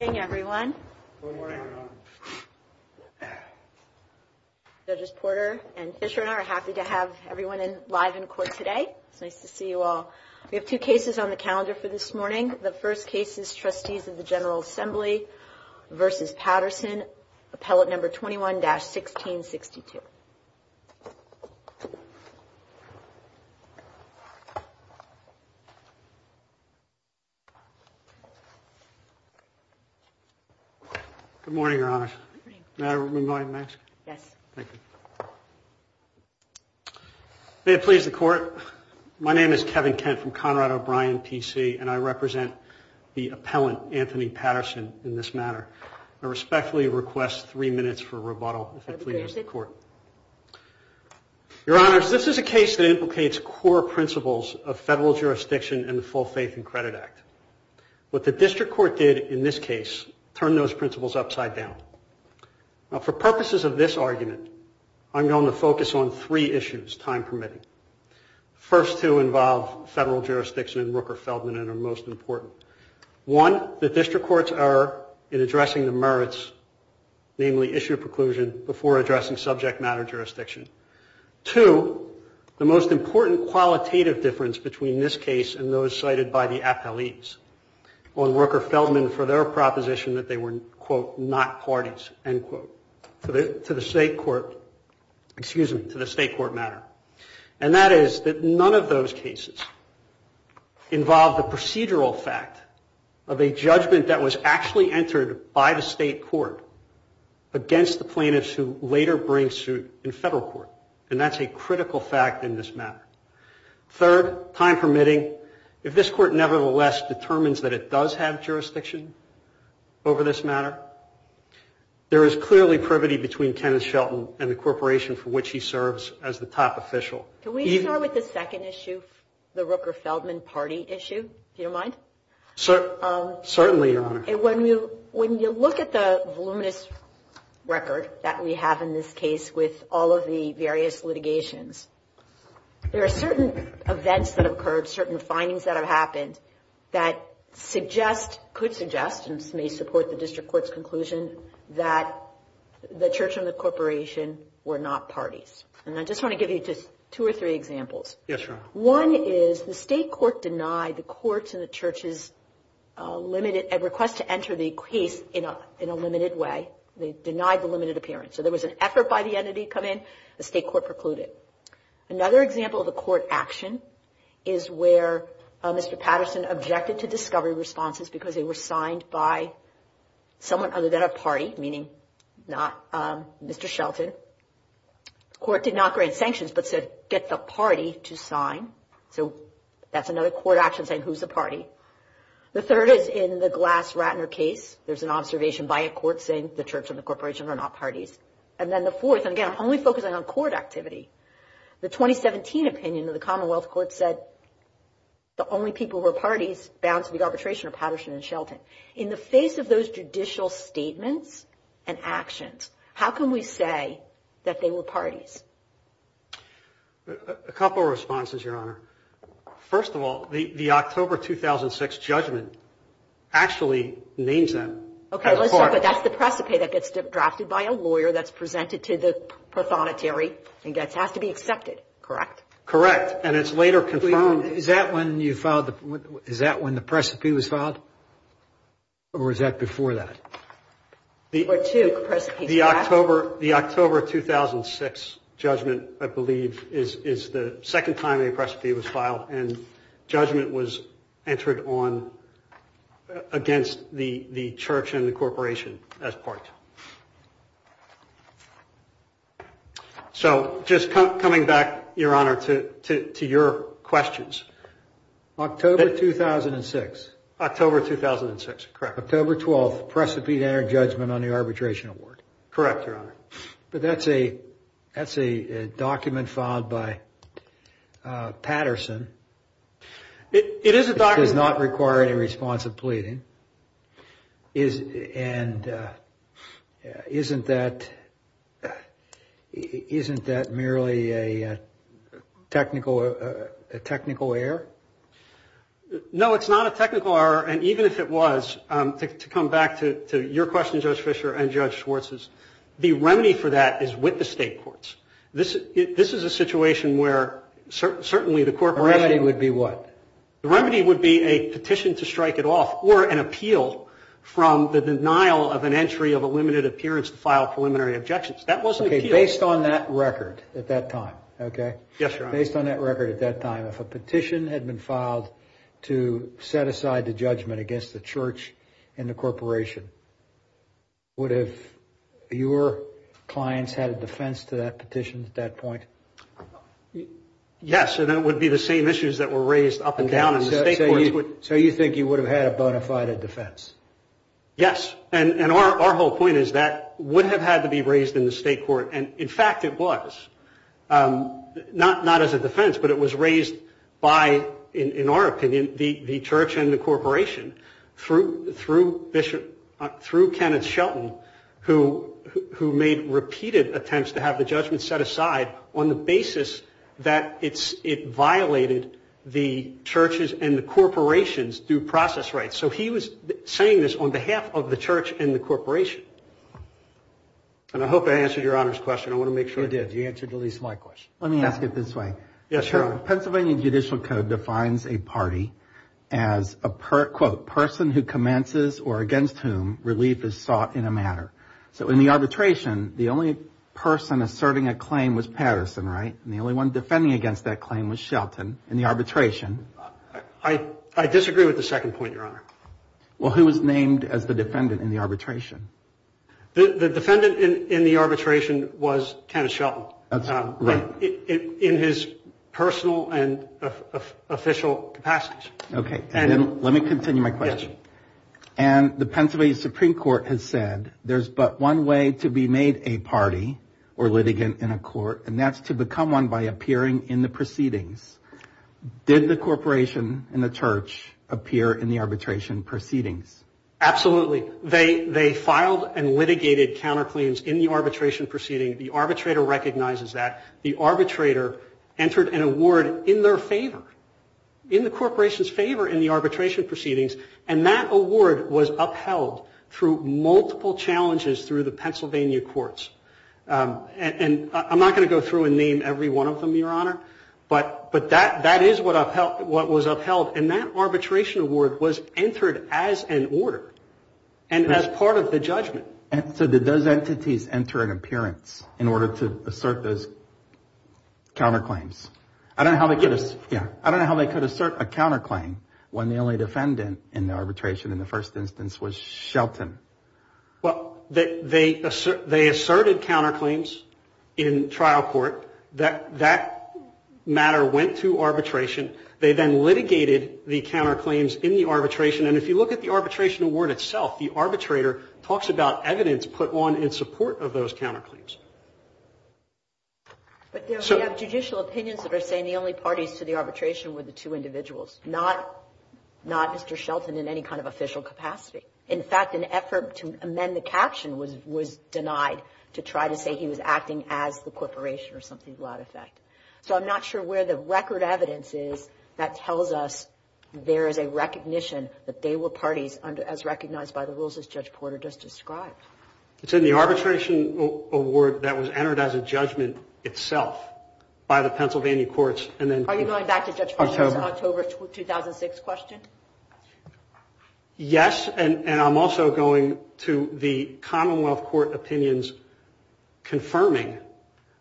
Good morning, everyone. Judges Porter and Fisher and I are happy to have everyone live in court today. It's nice to see you all. We have two cases on the calendar for this morning. The first case is Trustees of the General Assembly v. Patterson, appellate number 21-1662. Good morning, Your Honor. May I remove my mask? May it please the Court, my name is Kevin Kent from Conrad O'Brien, P.C. and I represent the appellant, Anthonee Patterson, in this matter. I respectfully request three minutes for rebuttal, if that pleases the Court. Your Honors, this is a case that implicates core principles of federal jurisdiction and the Full Faith and Credit Act. What the District Court did in this case turned those principles upside down. For purposes of this argument, I'm going to focus on three issues, time permitting. The first two involve federal jurisdiction and Rooker-Feldman and are most important. One, the District Courts are in addressing the merits, namely issue of preclusion, before addressing subject matter jurisdiction. Two, the most important qualitative difference between this case and those cited by the appellees on Rooker-Feldman for their proposition that they were, quote, not parties, end quote, to the State Court, excuse me, to the State Court matter. And that is that none of those cases involve the procedural fact of a judgment that was actually entered by the State Court against the plaintiffs who later bring suit in federal court. And that's a critical fact in this matter. Third, time permitting, if this court nevertheless determines that it does have jurisdiction over this matter, there is clearly privity between Kenneth Shelton and the corporation for which he serves as the top official. Can we start with the second issue, the Rooker-Feldman party issue, if you don't mind? Certainly, Your Honor. When you look at the voluminous record that we have in this case with all of the various litigations, there are certain events that occurred, certain findings that have happened that suggest, could suggest, and may support the district court's conclusion, that the church and the corporation were not parties. And I just want to give you just two or three examples. Yes, Your Honor. One is the State Court denied the courts and the church's limited request to enter the case in a limited way. They denied the limited appearance. So there was an effort by the entity to come in. The State Court precluded. Another example of a court action is where Mr. Patterson objected to discovery responses because they were signed by someone other than a party, meaning not Mr. Shelton. The court did not grant sanctions but said get the party to sign. So that's another court action saying who's the party. The third is in the Glass-Ratner case. There's an observation by a court saying the church and the corporation are not parties. And then the fourth, and again, I'm only focusing on court activity, the 2017 opinion of the Commonwealth Court said the only people who are parties bound to be arbitration are Patterson and Shelton. In the face of those judicial statements and actions, how can we say that they were parties? A couple of responses, Your Honor. First of all, the October 2006 judgment actually names that as a party. Okay, but that's the precipate that gets drafted by a lawyer that's presented to the prothonotary and has to be accepted, correct? Correct. And it's later confirmed. Is that when the precipate was filed? The October 2006 judgment, I believe, is the second time a precipate was filed and judgment was entered on against the church and the corporation as part. So just coming back, Your Honor, to your questions. October 2006. October 2006, correct. October 12th, precipate-entered judgment on the arbitration award. Correct, Your Honor. But that's a document filed by Patterson. It is a document. It does not require any response of pleading. And isn't that merely a technical error? No, it's not a technical error. And even if it was, to come back to your question, Judge Fischer, and Judge Schwartz's, the remedy for that is with the state courts. This is a situation where certainly the corporation would be what? The remedy would be a petition to strike it off or an appeal from the denial of an entry of a limited appearance to file preliminary objections. That wasn't an appeal. Okay, based on that record at that time, okay? Yes, Your Honor. Based on that record at that time, if a petition had been filed to set aside the judgment against the church and the corporation, would have your clients had a defense to that petition at that point? Yes, and it would be the same issues that were raised up and down in the state courts. So you think you would have had a bona fide defense? Yes. And our whole point is that would have had to be raised in the state court, and, in fact, it was. Not as a defense, but it was raised by, in our opinion, the church and the corporation through Kenneth Shelton, who made repeated attempts to have the judgment set aside on the basis that it violated the church's and the corporation's due process rights. So he was saying this on behalf of the church and the corporation. And I hope I answered Your Honor's question. I want to make sure. You did. You answered at least my question. Let me ask it this way. Yes, Your Honor. The Pennsylvania Judicial Code defines a party as a, quote, person who commences or against whom relief is sought in a matter. So in the arbitration, the only person asserting a claim was Patterson, right? And the only one defending against that claim was Shelton in the arbitration. I disagree with the second point, Your Honor. Well, who was named as the defendant in the arbitration? The defendant in the arbitration was Kenneth Shelton. That's right. In his personal and official capacity. Okay. And let me continue my question. Yes. And the Pennsylvania Supreme Court has said there's but one way to be made a party or litigant in a court, and that's to become one by appearing in the proceedings. Did the corporation and the church appear in the arbitration proceedings? Absolutely. They filed and litigated counterclaims in the arbitration proceedings. The arbitrator recognizes that. The arbitrator entered an award in their favor, in the corporation's favor, in the arbitration proceedings, and that award was upheld through multiple challenges through the Pennsylvania courts. And I'm not going to go through and name every one of them, Your Honor, but that is what was upheld, and that arbitration award was entered as an order and as part of the judgment. So did those entities enter an appearance in order to assert those counterclaims? I don't know how they could assert a counterclaim when the only defendant in the arbitration in the first instance was Shelton. Well, they asserted counterclaims in trial court. That matter went to arbitration. They then litigated the counterclaims in the arbitration, and if you look at the arbitration award itself, the arbitrator talks about evidence put on in support of those counterclaims. But there are judicial opinions that are saying the only parties to the arbitration were the two individuals, not Mr. Shelton in any kind of official capacity. In fact, an effort to amend the caption was denied to try to say he was acting as the corporation or something to that effect. So I'm not sure where the record evidence is that tells us there is a recognition that they were parties as recognized by the rules as Judge Porter just described. It's in the arbitration award that was entered as a judgment itself by the Pennsylvania courts. Are you going back to Judge Porter's October 2006 question? Yes, and I'm also going to the Commonwealth Court opinions confirming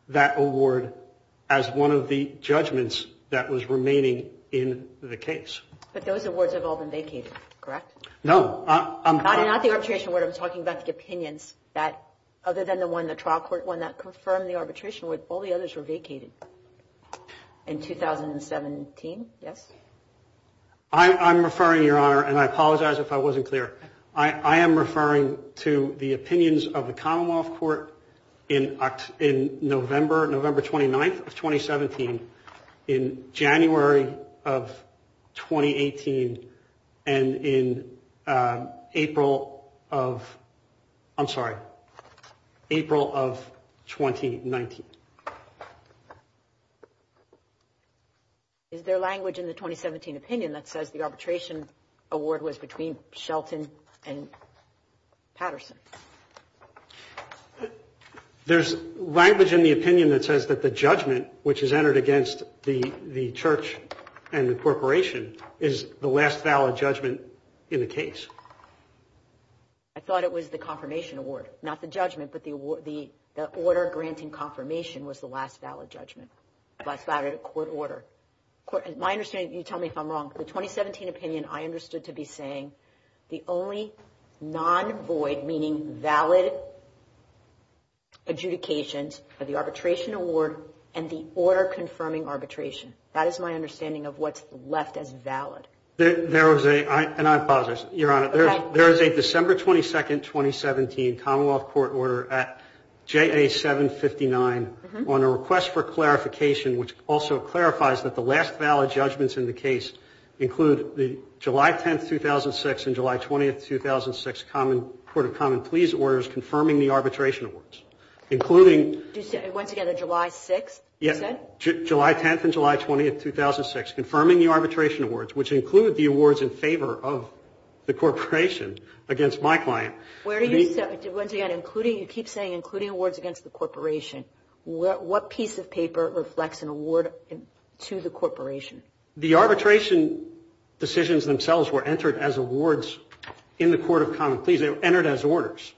that award as one of the judgments that was remaining in the case. But those awards have all been vacated, correct? No. Not the arbitration award. I'm talking about the opinions that other than the one, the trial court one, that confirmed the arbitration award, all the others were vacated in 2017, yes? I'm referring, Your Honor, and I apologize if I wasn't clear. I am referring to the opinions of the Commonwealth Court in November 29th of 2017. In January of 2018, and in April of 2019. Is there language in the 2017 opinion that says the arbitration award was between Shelton and Patterson? There's language in the opinion that says that the judgment, which is entered against the church and the corporation, is the last valid judgment in the case. I thought it was the confirmation award, not the judgment, but the order granting confirmation was the last valid judgment. Last valid court order. My understanding, you tell me if I'm wrong, the 2017 opinion I understood to be saying the only non-void, meaning valid, adjudications are the arbitration award and the order confirming arbitration. That is my understanding of what's left as valid. And I apologize, Your Honor. There is a December 22nd, 2017, Commonwealth Court order at JA759 on a request for clarification, which also clarifies that the last valid judgments in the case include the July 10th, 2006, and July 20th, 2006, Court of Common Pleas orders confirming the arbitration awards. Including. Once again, the July 6th, you said? Yes, July 10th and July 20th, 2006, confirming the arbitration awards, which include the awards in favor of the corporation against my client. Where do you, once again, including, you keep saying including awards against the corporation. What piece of paper reflects an award to the corporation? The arbitration decisions themselves were entered as awards in the Court of Common Pleas. They were entered as orders.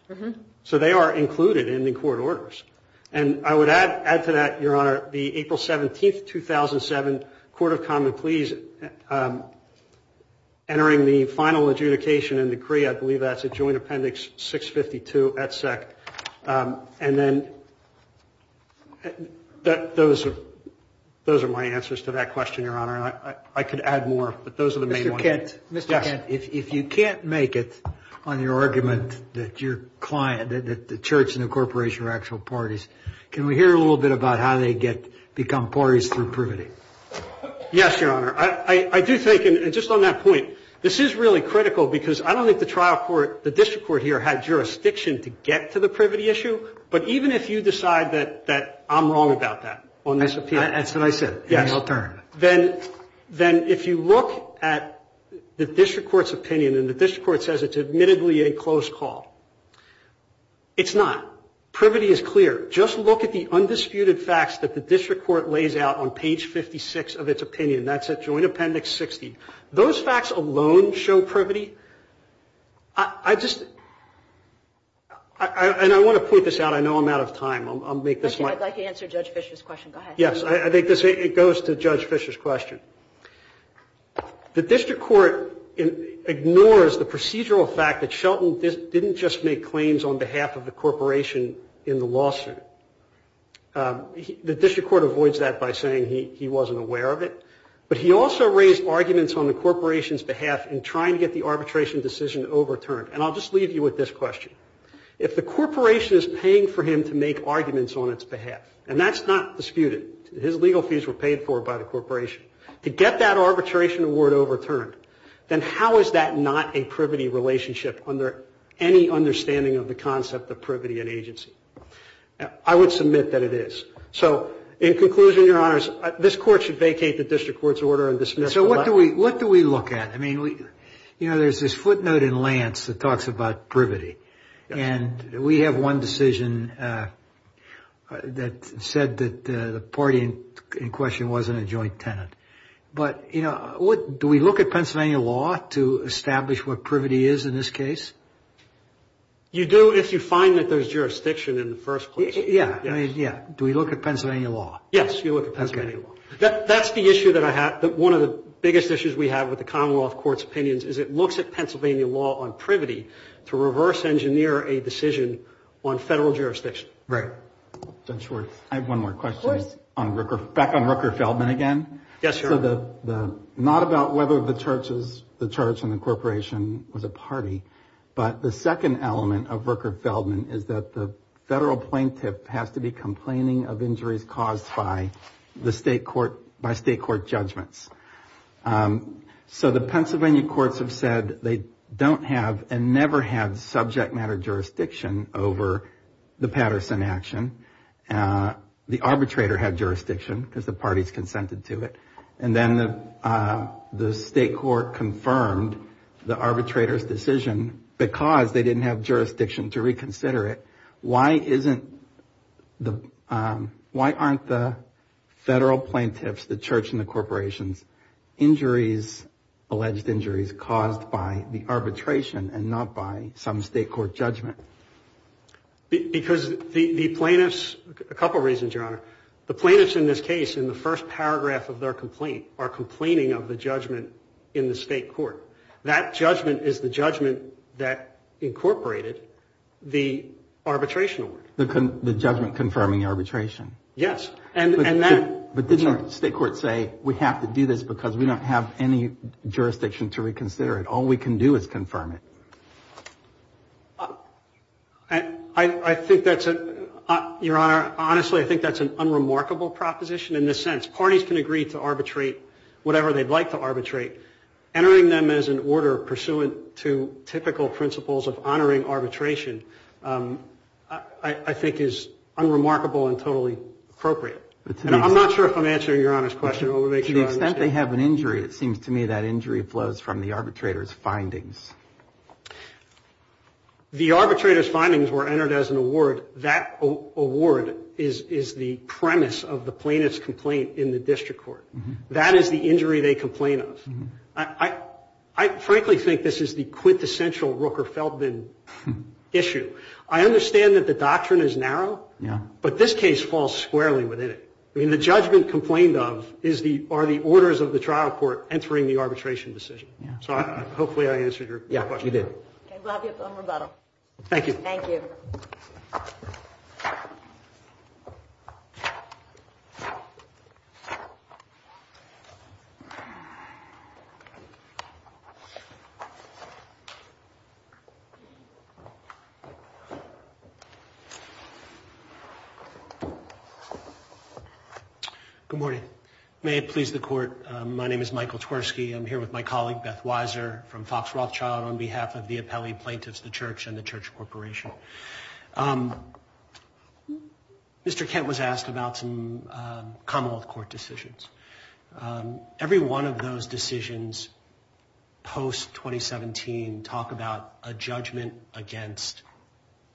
So they are included in the court orders. And I would add to that, Your Honor, the April 17th, 2007, Court of Common Pleas entering the final adjudication and decree, I believe that's a joint appendix 652 at SEC. And then those are my answers to that question, Your Honor. I could add more, but those are the main ones. Mr. Kent, if you can't make it on your argument that your client, that the church and the corporation are actual parties, can we hear a little bit about how they become parties through privity? Yes, Your Honor. I do think, and just on that point, this is really critical because I don't think the trial court, the district court here had jurisdiction to get to the privity issue. But even if you decide that I'm wrong about that on this opinion. That's what I said. And I'll turn. Then if you look at the district court's opinion, and the district court says it's admittedly a close call, it's not. Privity is clear. Just look at the undisputed facts that the district court lays out on page 56 of its opinion. That's at joint appendix 60. Those facts alone show privity. I just, and I want to point this out. I know I'm out of time. I'll make this my. I'd like to answer Judge Fischer's question. Go ahead. Yes. It goes to Judge Fischer's question. The district court ignores the procedural fact that Shelton didn't just make claims on behalf of the corporation in the lawsuit. The district court avoids that by saying he wasn't aware of it. But he also raised arguments on the corporation's behalf in trying to get the arbitration decision overturned. And I'll just leave you with this question. If the corporation is paying for him to make arguments on its behalf, and that's not disputed, his legal fees were paid for by the corporation, to get that arbitration award overturned, then how is that not a privity relationship under any understanding of the concept of privity and agency? I would submit that it is. So in conclusion, Your Honors, this court should vacate the district court's order and dismiss it. So what do we look at? I mean, you know, there's this footnote in Lance that talks about privity. And we have one decision that said that the party in question wasn't a joint tenant. But, you know, do we look at Pennsylvania law to establish what privity is in this case? You do if you find that there's jurisdiction in the first place. Yeah. Yeah. Do we look at Pennsylvania law? Yes, you look at Pennsylvania law. Okay. That's the issue that I have. One of the biggest issues we have with the Commonwealth Court's opinions is it looks at Pennsylvania law on privity to reverse engineer a decision on federal jurisdiction. Right. Judge Schwartz. I have one more question. Of course. Back on Rooker Feldman again. Yes, Your Honor. So not about whether the church and the corporation was a party, but the second element of Rooker Feldman is that the federal plaintiff has to be complaining of injuries caused by the state court judgments. So the Pennsylvania courts have said they don't have and never had subject matter jurisdiction over the Patterson action. The arbitrator had jurisdiction because the parties consented to it. And then the state court confirmed the arbitrator's decision because they didn't have jurisdiction to reconsider it. Why aren't the federal plaintiffs, the church and the corporations, injuries, alleged injuries, caused by the arbitration and not by some state court judgment? Because the plaintiffs, a couple reasons, Your Honor. The plaintiffs in this case in the first paragraph of their complaint are complaining of the judgment in the state court. That judgment is the judgment that incorporated the arbitration award. The judgment confirming the arbitration. Yes. But didn't the state court say we have to do this because we don't have any jurisdiction to reconsider it. All we can do is confirm it. I think that's, Your Honor, honestly, I think that's an unremarkable proposition in this sense. Parties can agree to arbitrate whatever they'd like to arbitrate. Entering them as an order pursuant to typical principles of honoring arbitration, I think is unremarkable and totally appropriate. I'm not sure if I'm answering Your Honor's question. To the extent they have an injury, it seems to me that injury flows from the arbitrator's findings. The arbitrator's findings were entered as an award. That award is the premise of the plaintiff's complaint in the district court. That is the injury they complain of. I frankly think this is the quintessential Rooker-Feldman issue. I understand that the doctrine is narrow, but this case falls squarely within it. I mean, the judgment complained of are the orders of the trial court entering the arbitration decision. So hopefully I answered your question. Yeah, you did. Thank you. Thank you. Good morning. May it please the court, my name is Michael Twersky. I'm here with my colleague Beth Weiser from Fox Rothschild on behalf of the appellee plaintiffs, the church, and the church corporation. Mr. Kent was asked about some commonwealth court decisions. Every one of those decisions post-2017 talk about a judgment against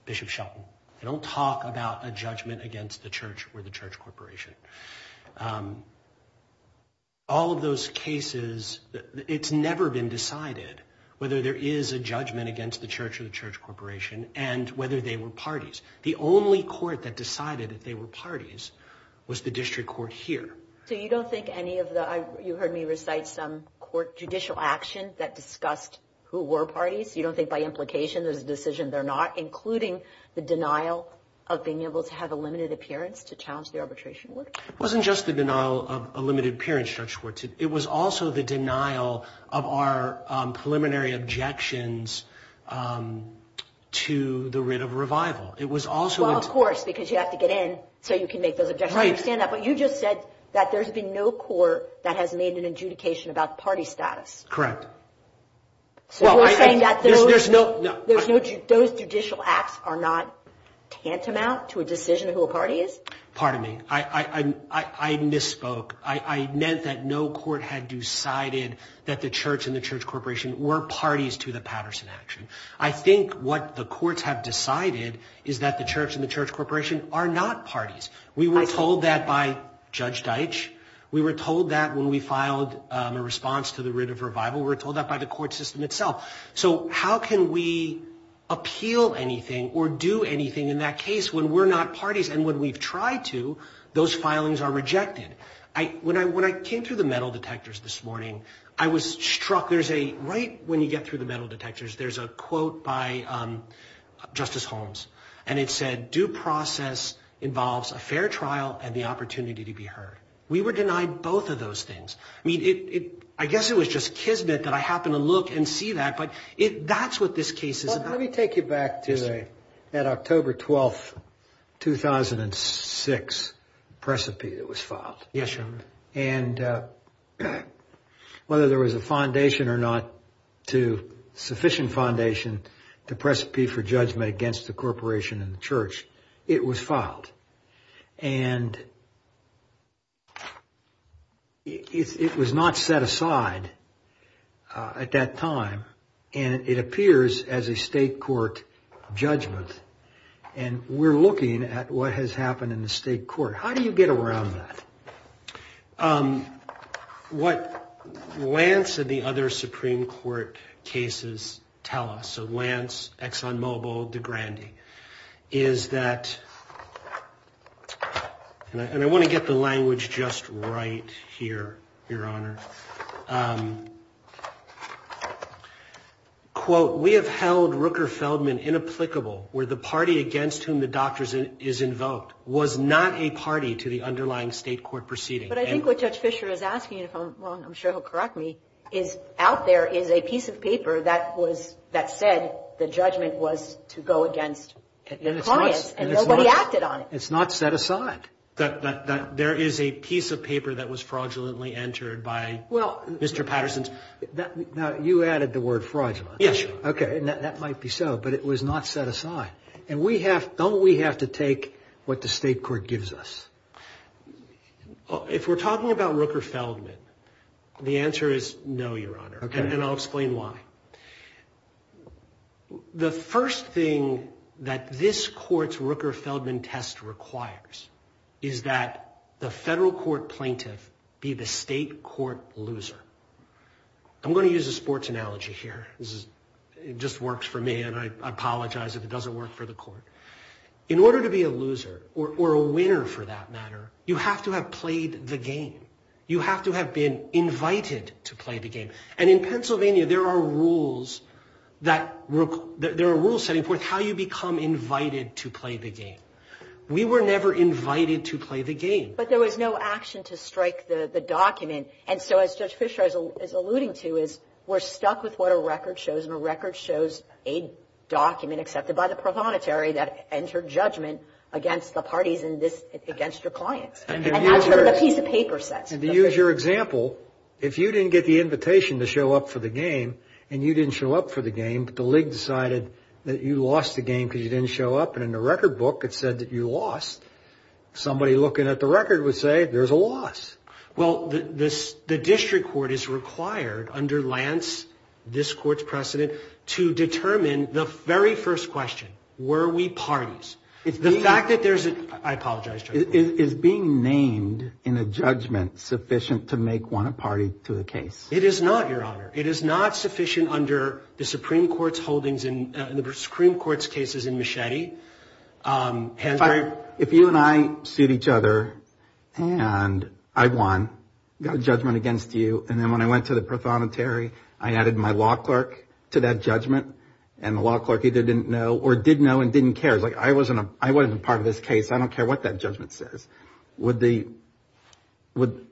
Bishop Shelton. They don't talk about a judgment against the church or the church corporation. All of those cases, it's never been decided whether there is a judgment against the church or the church corporation and whether they were parties. The only court that decided that they were parties was the district court here. So you don't think any of the, you heard me recite some court judicial action that discussed who were parties? You don't think by implication there's a decision they're not, including the denial of being able to have a limited appearance to challenge the arbitration work? It wasn't just the denial of a limited appearance, Judge Schwartz. It was also the denial of our preliminary objections to the writ of revival. It was also. Well, of course, because you have to get in so you can make those objections. I understand that. But you just said that there's been no court that has made an adjudication about party status. Correct. So you're saying that those judicial acts are not tantamount to a decision of who a party is? Pardon me. I misspoke. I meant that no court had decided that the church and the church corporation were parties to the Patterson action. I think what the courts have decided is that the church and the church corporation are not parties. We were told that by Judge Deitch. We were told that when we filed a response to the writ of revival. We were told that by the court system itself. So how can we appeal anything or do anything in that case when we're not parties and when we've tried to, those filings are rejected? When I came through the metal detectors this morning, I was struck. Right when you get through the metal detectors, there's a quote by Justice Holmes, and it said, due process involves a fair trial and the opportunity to be heard. We were denied both of those things. I mean, I guess it was just kismet that I happened to look and see that. But that's what this case is about. Let me take you back to that October 12, 2006, precipice that was filed. Yes, Your Honor. And whether there was a foundation or not to sufficient foundation to precipitate for judgment against the corporation and the church, it was filed. And it was not set aside at that time. And it appears as a state court judgment. And we're looking at what has happened in the state court. How do you get around that? What Lance and the other Supreme Court cases tell us, so Lance, ExxonMobil, DeGrande, is that, and I want to get the language just right here, Your Honor. Quote, we have held Rooker Feldman inapplicable where the party against whom the doctor is invoked was not a party to the underlying state court proceeding. But I think what Judge Fischer is asking, if I'm wrong, I'm sure he'll correct me, is out there is a piece of paper that said the judgment was to go against the clients and nobody acted on it. It's not set aside. There is a piece of paper that was fraudulently entered by Mr. Patterson. Now, you added the word fraudulent. Yes, Your Honor. Okay. And that might be so, but it was not set aside. And don't we have to take what the state court gives us? If we're talking about Rooker Feldman, the answer is no, Your Honor. Okay. And I'll explain why. The first thing that this court's Rooker Feldman test requires is that the federal court plaintiff be the state court loser. I'm going to use a sports analogy here. It just works for me, and I apologize if it doesn't work for the court. In order to be a loser, or a winner for that matter, you have to have played the game. You have to have been invited to play the game. And in Pennsylvania, there are rules setting forth how you become invited to play the game. We were never invited to play the game. But there was no action to strike the document. And so, as Judge Fischer is alluding to, is we're stuck with what a record shows, and a record shows a document accepted by the pro-monetary that entered judgment against the parties and against your clients. And that's a piece of paper set. And to use your example, if you didn't get the invitation to show up for the game, and you didn't show up for the game, but the league decided that you lost the game because you didn't show up, and in the record book it said that you lost, somebody looking at the record would say, there's a loss. Well, the district court is required under Lance, this court's precedent, to determine the very first question, were we parties? The fact that there's a, I apologize, Judge Fischer. Is being named in a judgment sufficient to make one a party to a case? It is not, Your Honor. It is not sufficient under the Supreme Court's holdings in, the Supreme Court's cases in Machete. If you and I suit each other, and I won, got a judgment against you, and then when I went to the pro-monetary, I added my law clerk to that judgment, and the law clerk either didn't know or did know and didn't care. It's like, I wasn't a part of this case. I don't care what that judgment says. Would the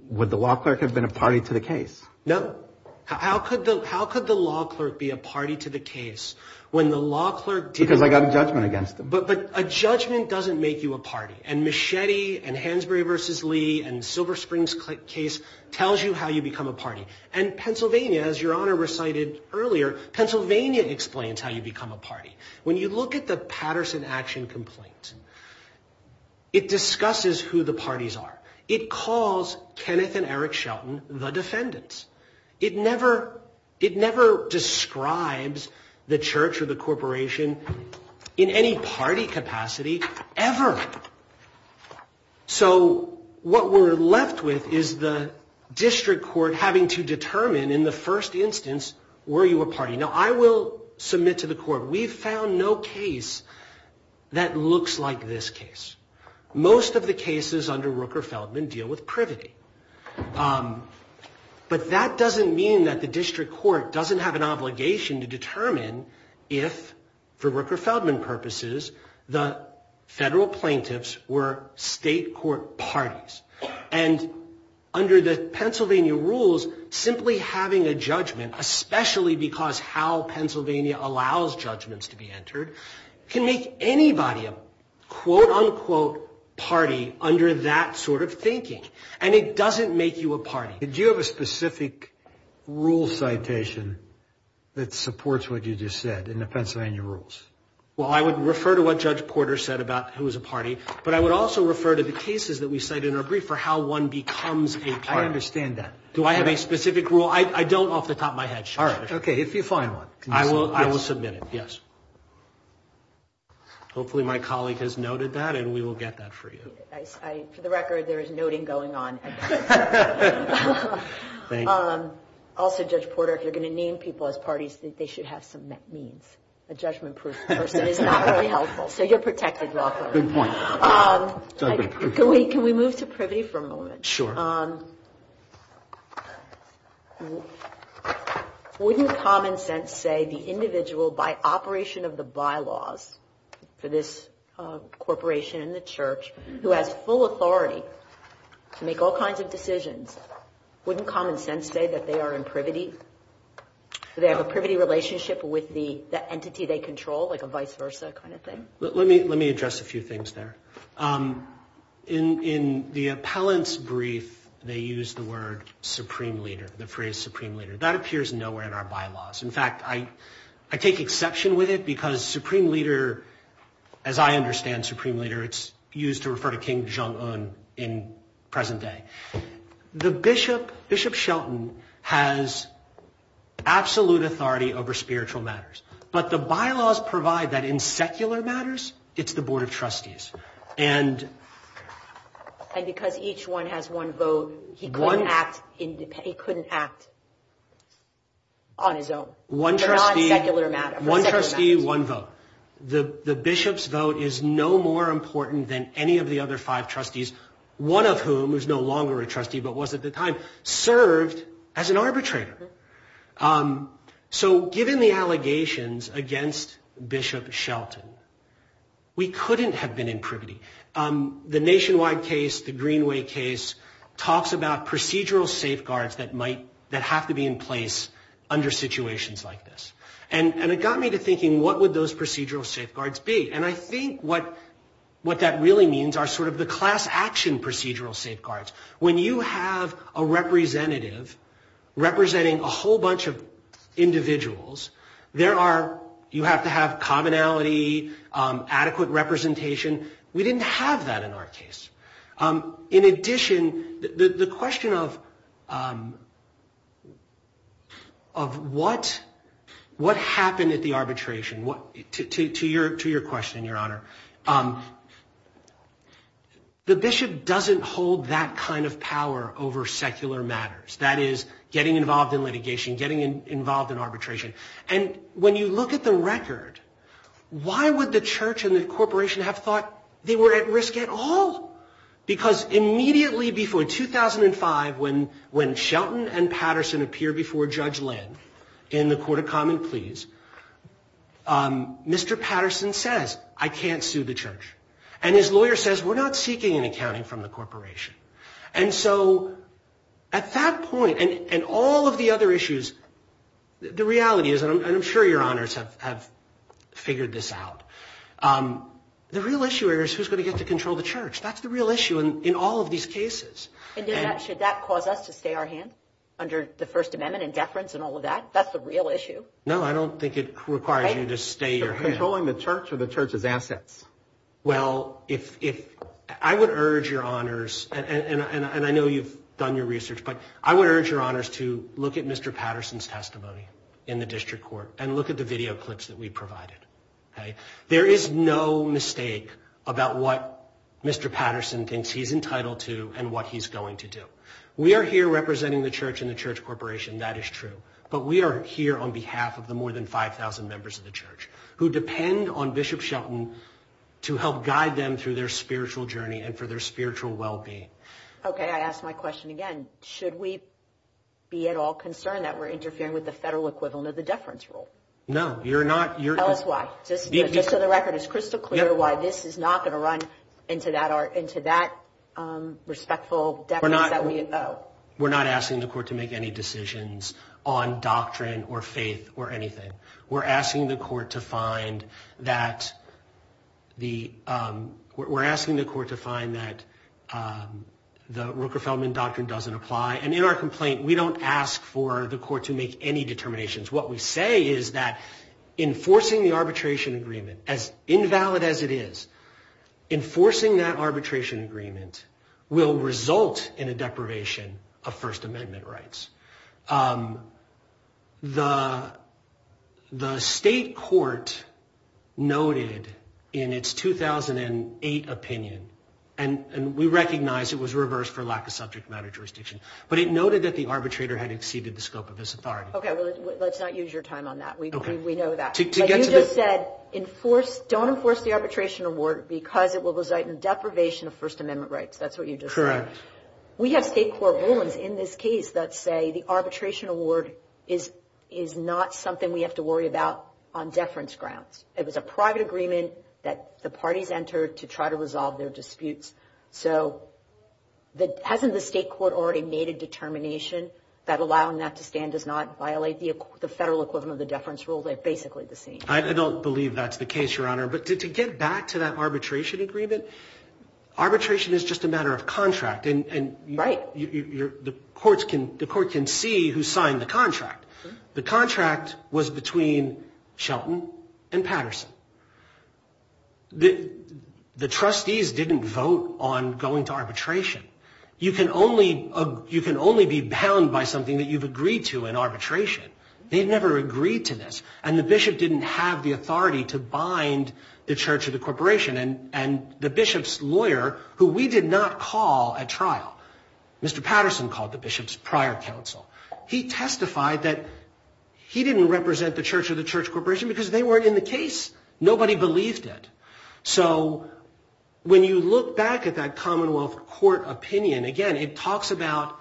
law clerk have been a party to the case? No. How could the law clerk be a party to the case when the law clerk didn't know? Because I got a judgment against him. But a judgment doesn't make you a party. And Machete and Hansberry v. Lee and Silver Springs case tells you how you become a party. And Pennsylvania, as Your Honor recited earlier, Pennsylvania explains how you become a party. When you look at the Patterson action complaint, it discusses who the parties are. It calls Kenneth and Eric Shelton the defendants. It never describes the church or the corporation in any party capacity ever. So what we're left with is the district court having to determine in the first instance, were you a party? Now, I will submit to the court, we've found no case that looks like this case. Most of the cases under Rooker-Feldman deal with privity. But that doesn't mean that the district court doesn't have an obligation to determine if, for Rooker-Feldman purposes, the federal plaintiffs were state court parties. And under the Pennsylvania rules, simply having a judgment, especially because how Pennsylvania allows judgments to be entered, can make anybody a quote-unquote party under that sort of thinking. And it doesn't make you a party. Did you have a specific rule citation that supports what you just said in the Pennsylvania rules? Well, I would refer to what Judge Porter said about who was a party, but I would also refer to the cases that we cite in our brief for how one becomes a party. I understand that. Do I have a specific rule? I don't off the top of my head, Judge. Okay, if you find one. I will submit it, yes. Hopefully my colleague has noted that, and we will get that for you. For the record, there is noting going on. Also, Judge Porter, if you're going to name people as parties, they should have some means. A judgment-proof person is not really helpful. So you're protected, Rockwell. Good point. Sure. Wouldn't common sense say the individual by operation of the bylaws for this corporation and the church, who has full authority to make all kinds of decisions, wouldn't common sense say that they are in privity? Do they have a privity relationship with the entity they control, like a vice versa kind of thing? Let me address a few things there. In the appellant's brief, they use the word Supreme Leader, the phrase Supreme Leader. That appears nowhere in our bylaws. In fact, I take exception with it because Supreme Leader, as I understand Supreme Leader, it's used to refer to King Jong-un in present day. The Bishop, Bishop Shelton, has absolute authority over spiritual matters. But the bylaws provide that in secular matters, it's the Board of Trustees. And because each one has one vote, he couldn't act on his own. One trustee, one vote. The Bishop's vote is no more important than any of the other five trustees, one of whom is no longer a trustee but was at the time, served as an arbitrator. So given the allegations against Bishop Shelton, we couldn't have been in privity. The Nationwide case, the Greenway case, talks about procedural safeguards that might, that have to be in place under situations like this. And it got me to thinking, what would those procedural safeguards be? And I think what that really means are sort of the class action procedural safeguards. When you have a representative representing a whole bunch of individuals, there are, you have to have commonality, adequate representation. We didn't have that in our case. In addition, the question of what happened at the arbitration, to your question, Your Honor. The Bishop doesn't hold that kind of power over secular matters. That is, getting involved in litigation, getting involved in arbitration. And when you look at the record, why would the church and the corporation have thought they were at risk at all? Because immediately before 2005, when Shelton and Patterson appear before Judge Lynn in the Court of Common Pleas, Mr. Patterson says, I can't sue the church. And his lawyer says, we're not seeking an accounting from the corporation. And so at that point, and all of the other issues, the reality is, and I'm sure your honors have figured this out, the real issue here is who's going to get to control the church. That's the real issue in all of these cases. And should that cause us to stay our hand under the First Amendment and deference and all of that? That's the real issue? No, I don't think it requires you to stay your hand. So controlling the church or the church's assets? Well, I would urge your honors, and I know you've done your research, but I would urge your honors to look at Mr. Patterson's testimony in the district court and look at the video clips that we provided. There is no mistake about what Mr. Patterson thinks he's entitled to and what he's going to do. We are here representing the church and the church corporation. That is true. But we are here on behalf of the more than 5,000 members of the church who depend on Bishop Shelton to help guide them through their spiritual journey and for their spiritual well-being. Okay, I ask my question again. Should we be at all concerned that we're interfering with the federal equivalent of the deference rule? No, you're not. Tell us why. Just for the record, is crystal clear why this is not going to run into that respectful deference that we owe? We're not asking the court to make any decisions on doctrine or faith or anything. We're asking the court to find that the Roker-Feldman doctrine doesn't apply. And in our complaint, we don't ask for the court to make any determinations. What we say is that enforcing the arbitration agreement, as invalid as it is, enforcing that arbitration agreement will result in a deprivation of First Amendment rights. The state court noted in its 2008 opinion, and we recognize it was reversed for lack of subject matter jurisdiction, but it noted that the arbitrator had exceeded the scope of his authority. Okay, let's not use your time on that. We know that. But you just said don't enforce the arbitration award because it will result in deprivation of First Amendment rights. That's what you just said. Correct. We have state court rulings in this case that say the arbitration award is not something we have to worry about on deference grounds. It was a private agreement that the parties entered to try to resolve their disputes. So hasn't the state court already made a determination that allowing that to stand does not violate the federal equivalent of the deference rule? They're basically the same. I don't believe that's the case, Your Honor. But to get back to that arbitration agreement, arbitration is just a matter of contract. And the court can see who signed the contract. The contract was between Shelton and Patterson. The trustees didn't vote on going to arbitration. You can only be bound by something that you've agreed to in arbitration. They never agreed to this. And the bishop didn't have the authority to bind the Church of the Corporation. And the bishop's lawyer, who we did not call at trial, Mr. Patterson called the bishop's prior counsel, he testified that he didn't represent the Church of the Church Corporation because they weren't in the case. Nobody believed it. So when you look back at that Commonwealth Court opinion, again, it talks about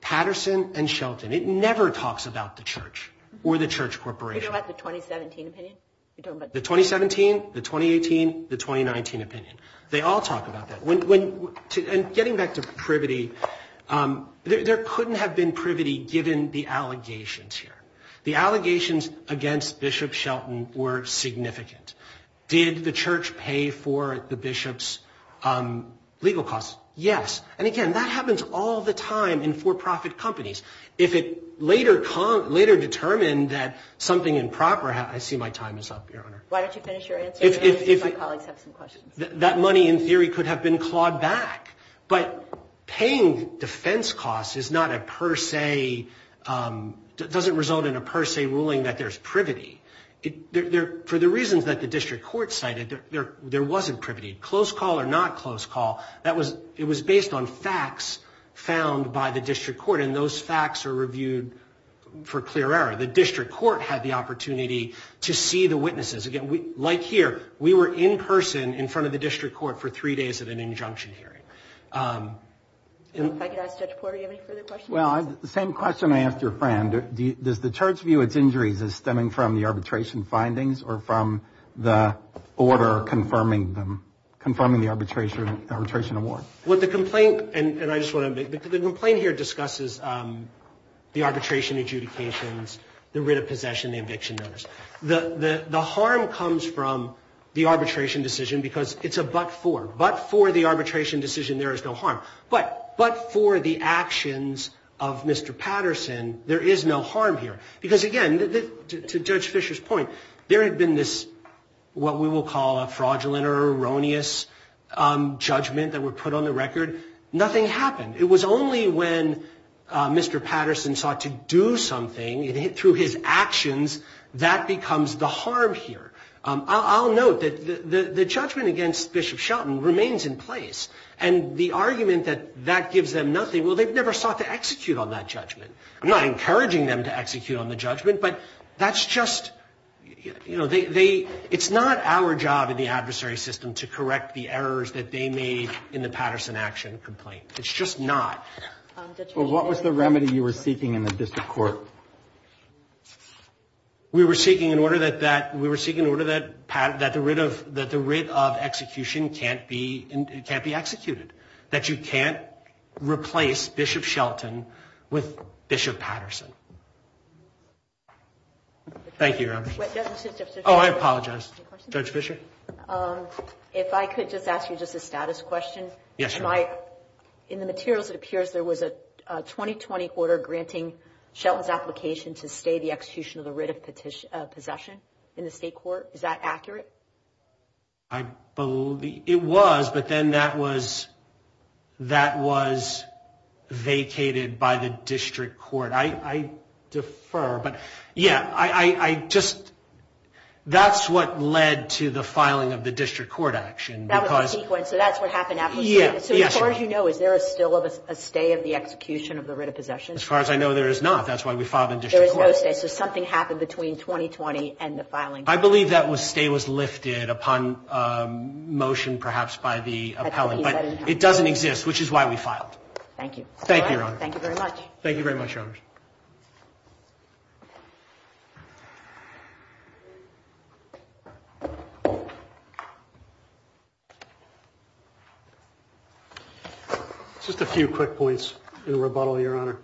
Patterson and Shelton. It never talks about the Church or the Church Corporation. You're talking about the 2017 opinion? The 2017, the 2018, the 2019 opinion. They all talk about that. And getting back to privity, there couldn't have been privity given the allegations here. The allegations against Bishop Shelton were significant. Did the church pay for the bishop's legal costs? Yes. And, again, that happens all the time in for-profit companies. If it later determined that something improper, I see my time is up, Your Honor. Why don't you finish your answer? My colleagues have some questions. That money, in theory, could have been clawed back. But paying defense costs is not a per se, doesn't result in a per se ruling that there's privity. For the reasons that the district court cited, there wasn't privity. Close call or not close call, it was based on facts found by the district court. And those facts are reviewed for clear error. The district court had the opportunity to see the witnesses. Again, like here, we were in person in front of the district court for three days at an injunction hearing. If I could ask Judge Porter, do you have any further questions? Well, the same question I asked your friend. Does the church view its injuries as stemming from the arbitration findings or from the order confirming them, confirming the arbitration award? The complaint here discusses the arbitration adjudications, the writ of possession, the eviction notice. The harm comes from the arbitration decision because it's a but for. But for the arbitration decision, there is no harm. But for the actions of Mr. Patterson, there is no harm here. Because, again, to Judge Fisher's point, there had been this what we will call a fraudulent or erroneous judgment that were put on the record. Nothing happened. It was only when Mr. Patterson sought to do something through his actions that becomes the harm here. I'll note that the judgment against Bishop Shelton remains in place. And the argument that that gives them nothing, well, they've never sought to execute on that judgment. I'm not encouraging them to execute on the judgment, but that's just, you know, it's not our job in the adversary system to correct the errors that they made in the Patterson action complaint. It's just not. Well, what was the remedy you were seeking in the district court? We were seeking an order that the writ of execution can't be executed, that you can't replace Bishop Shelton with Bishop Patterson. Thank you. Oh, I apologize. Judge Fisher? If I could just ask you just a status question. Yes. In the materials, it appears there was a 2020 order granting Shelton's application to stay the execution of the writ of possession in the state court. Is that accurate? I believe it was, but then that was vacated by the district court. I defer, but, yeah, I just, that's what led to the filing of the district court action. That was the sequence, so that's what happened afterwards. So as far as you know, is there still a stay of the execution of the writ of possession? As far as I know, there is not. That's why we filed in district court. There is no stay, so something happened between 2020 and the filing. I believe that stay was lifted upon motion perhaps by the appellant, but it doesn't exist, which is why we filed. Thank you. Thank you, Your Honor. Thank you very much. Thank you very much, Your Honor. Just a few quick points in rebuttal, Your Honor.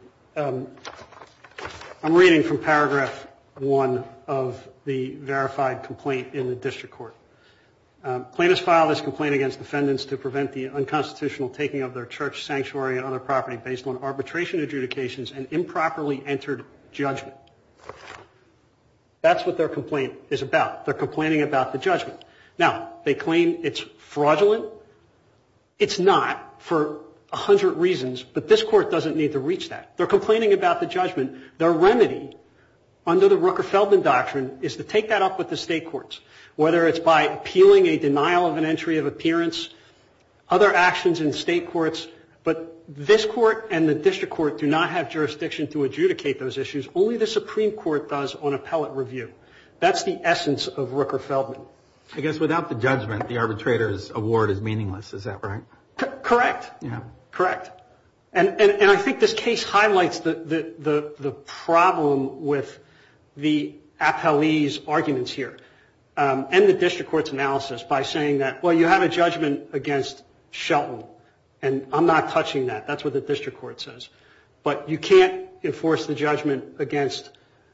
I'm reading from paragraph one of the verified complaint in the district court. Plaintiffs filed this complaint against defendants to prevent the unconstitutional taking of their church, sanctuary, and other property based on arbitration adjudications and improperly entered judgment. That's what their complaint is about. They're complaining about the judgment. Now, they claim it's fraudulent. It's not for a hundred reasons, but this court doesn't need to reach that. They're complaining about the judgment. Their remedy under the Rooker-Feldman doctrine is to take that up with the state courts, whether it's by appealing a denial of an entry of appearance, other actions in state courts, but this court and the district court do not have jurisdiction to adjudicate those issues. Only the Supreme Court does on appellate review. That's the essence of Rooker-Feldman. I guess without the judgment, the arbitrator's award is meaningless. Is that right? Correct. Yeah. Correct. And I think this case highlights the problem with the appellee's arguments here and the district court's analysis by saying that, well, you have a judgment against Shelton, and I'm not touching that. That's what the district court says. But you can't enforce the judgment against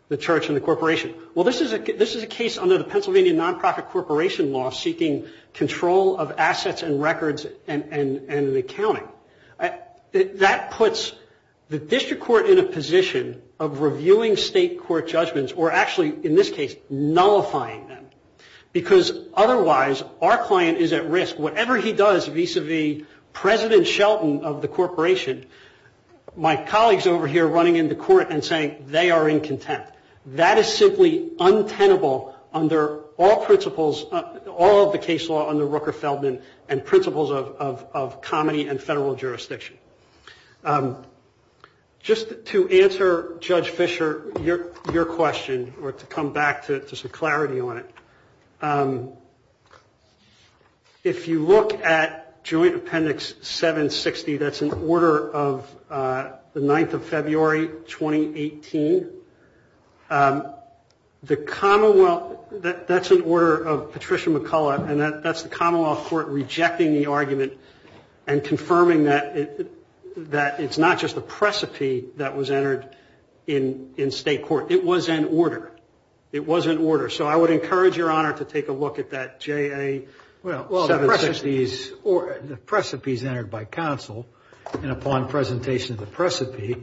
the church and the corporation. Well, this is a case under the Pennsylvania Nonprofit Corporation Law seeking control of assets and records and accounting. That puts the district court in a position of reviewing state court judgments or actually, in this case, nullifying them, because otherwise our client is at risk. Whatever he does vis-a-vis President Shelton of the corporation, my colleagues over here running into court and saying they are in contempt. That is simply untenable under all principles, all of the case law under Rooker-Feldman and principles of comedy and federal jurisdiction. Just to answer Judge Fischer, your question, or to come back to some clarity on it, if you look at Joint Appendix 760, that's an order of the 9th of February, 2018. The Commonwealth, that's an order of Patricia McCullough, and that's the Commonwealth Court rejecting the argument and confirming that it's not just a precipice that was entered in state court. It was an order. So I would encourage Your Honor to take a look at that JA 760. Well, the precipice entered by counsel, and upon presentation of the precipice,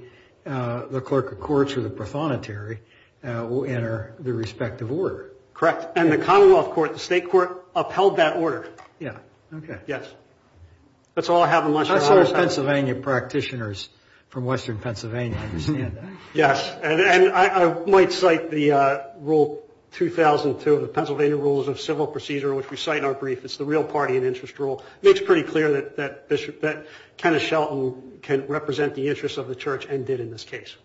the clerk of courts or the prothonotary will enter the respective order. Correct. And the Commonwealth Court, the state court, upheld that order. Yeah. Okay. Yes. Let's all have a much better understanding. That's how Pennsylvania practitioners from western Pennsylvania understand that. Yes. And I might cite the Rule 2002 of the Pennsylvania Rules of Civil Procedure, which we cite in our brief. It's the real party and interest rule. It makes pretty clear that Kenneth Shelton can represent the interests of the church and did in this case.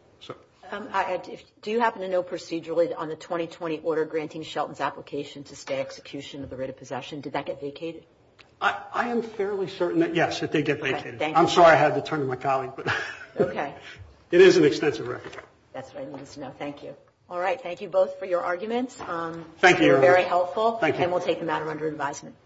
Do you happen to know procedurally on the 2020 order granting Shelton's application to stay execution of the writ of possession? Did that get vacated? I am fairly certain that, yes, it did get vacated. I'm sorry I had to turn to my colleague. Okay. It is an extensive record. That's what I needed to know. Thank you. All right. Thank you both for your arguments. Thank you. Very helpful. Thank you. And we'll take the matter under advisement.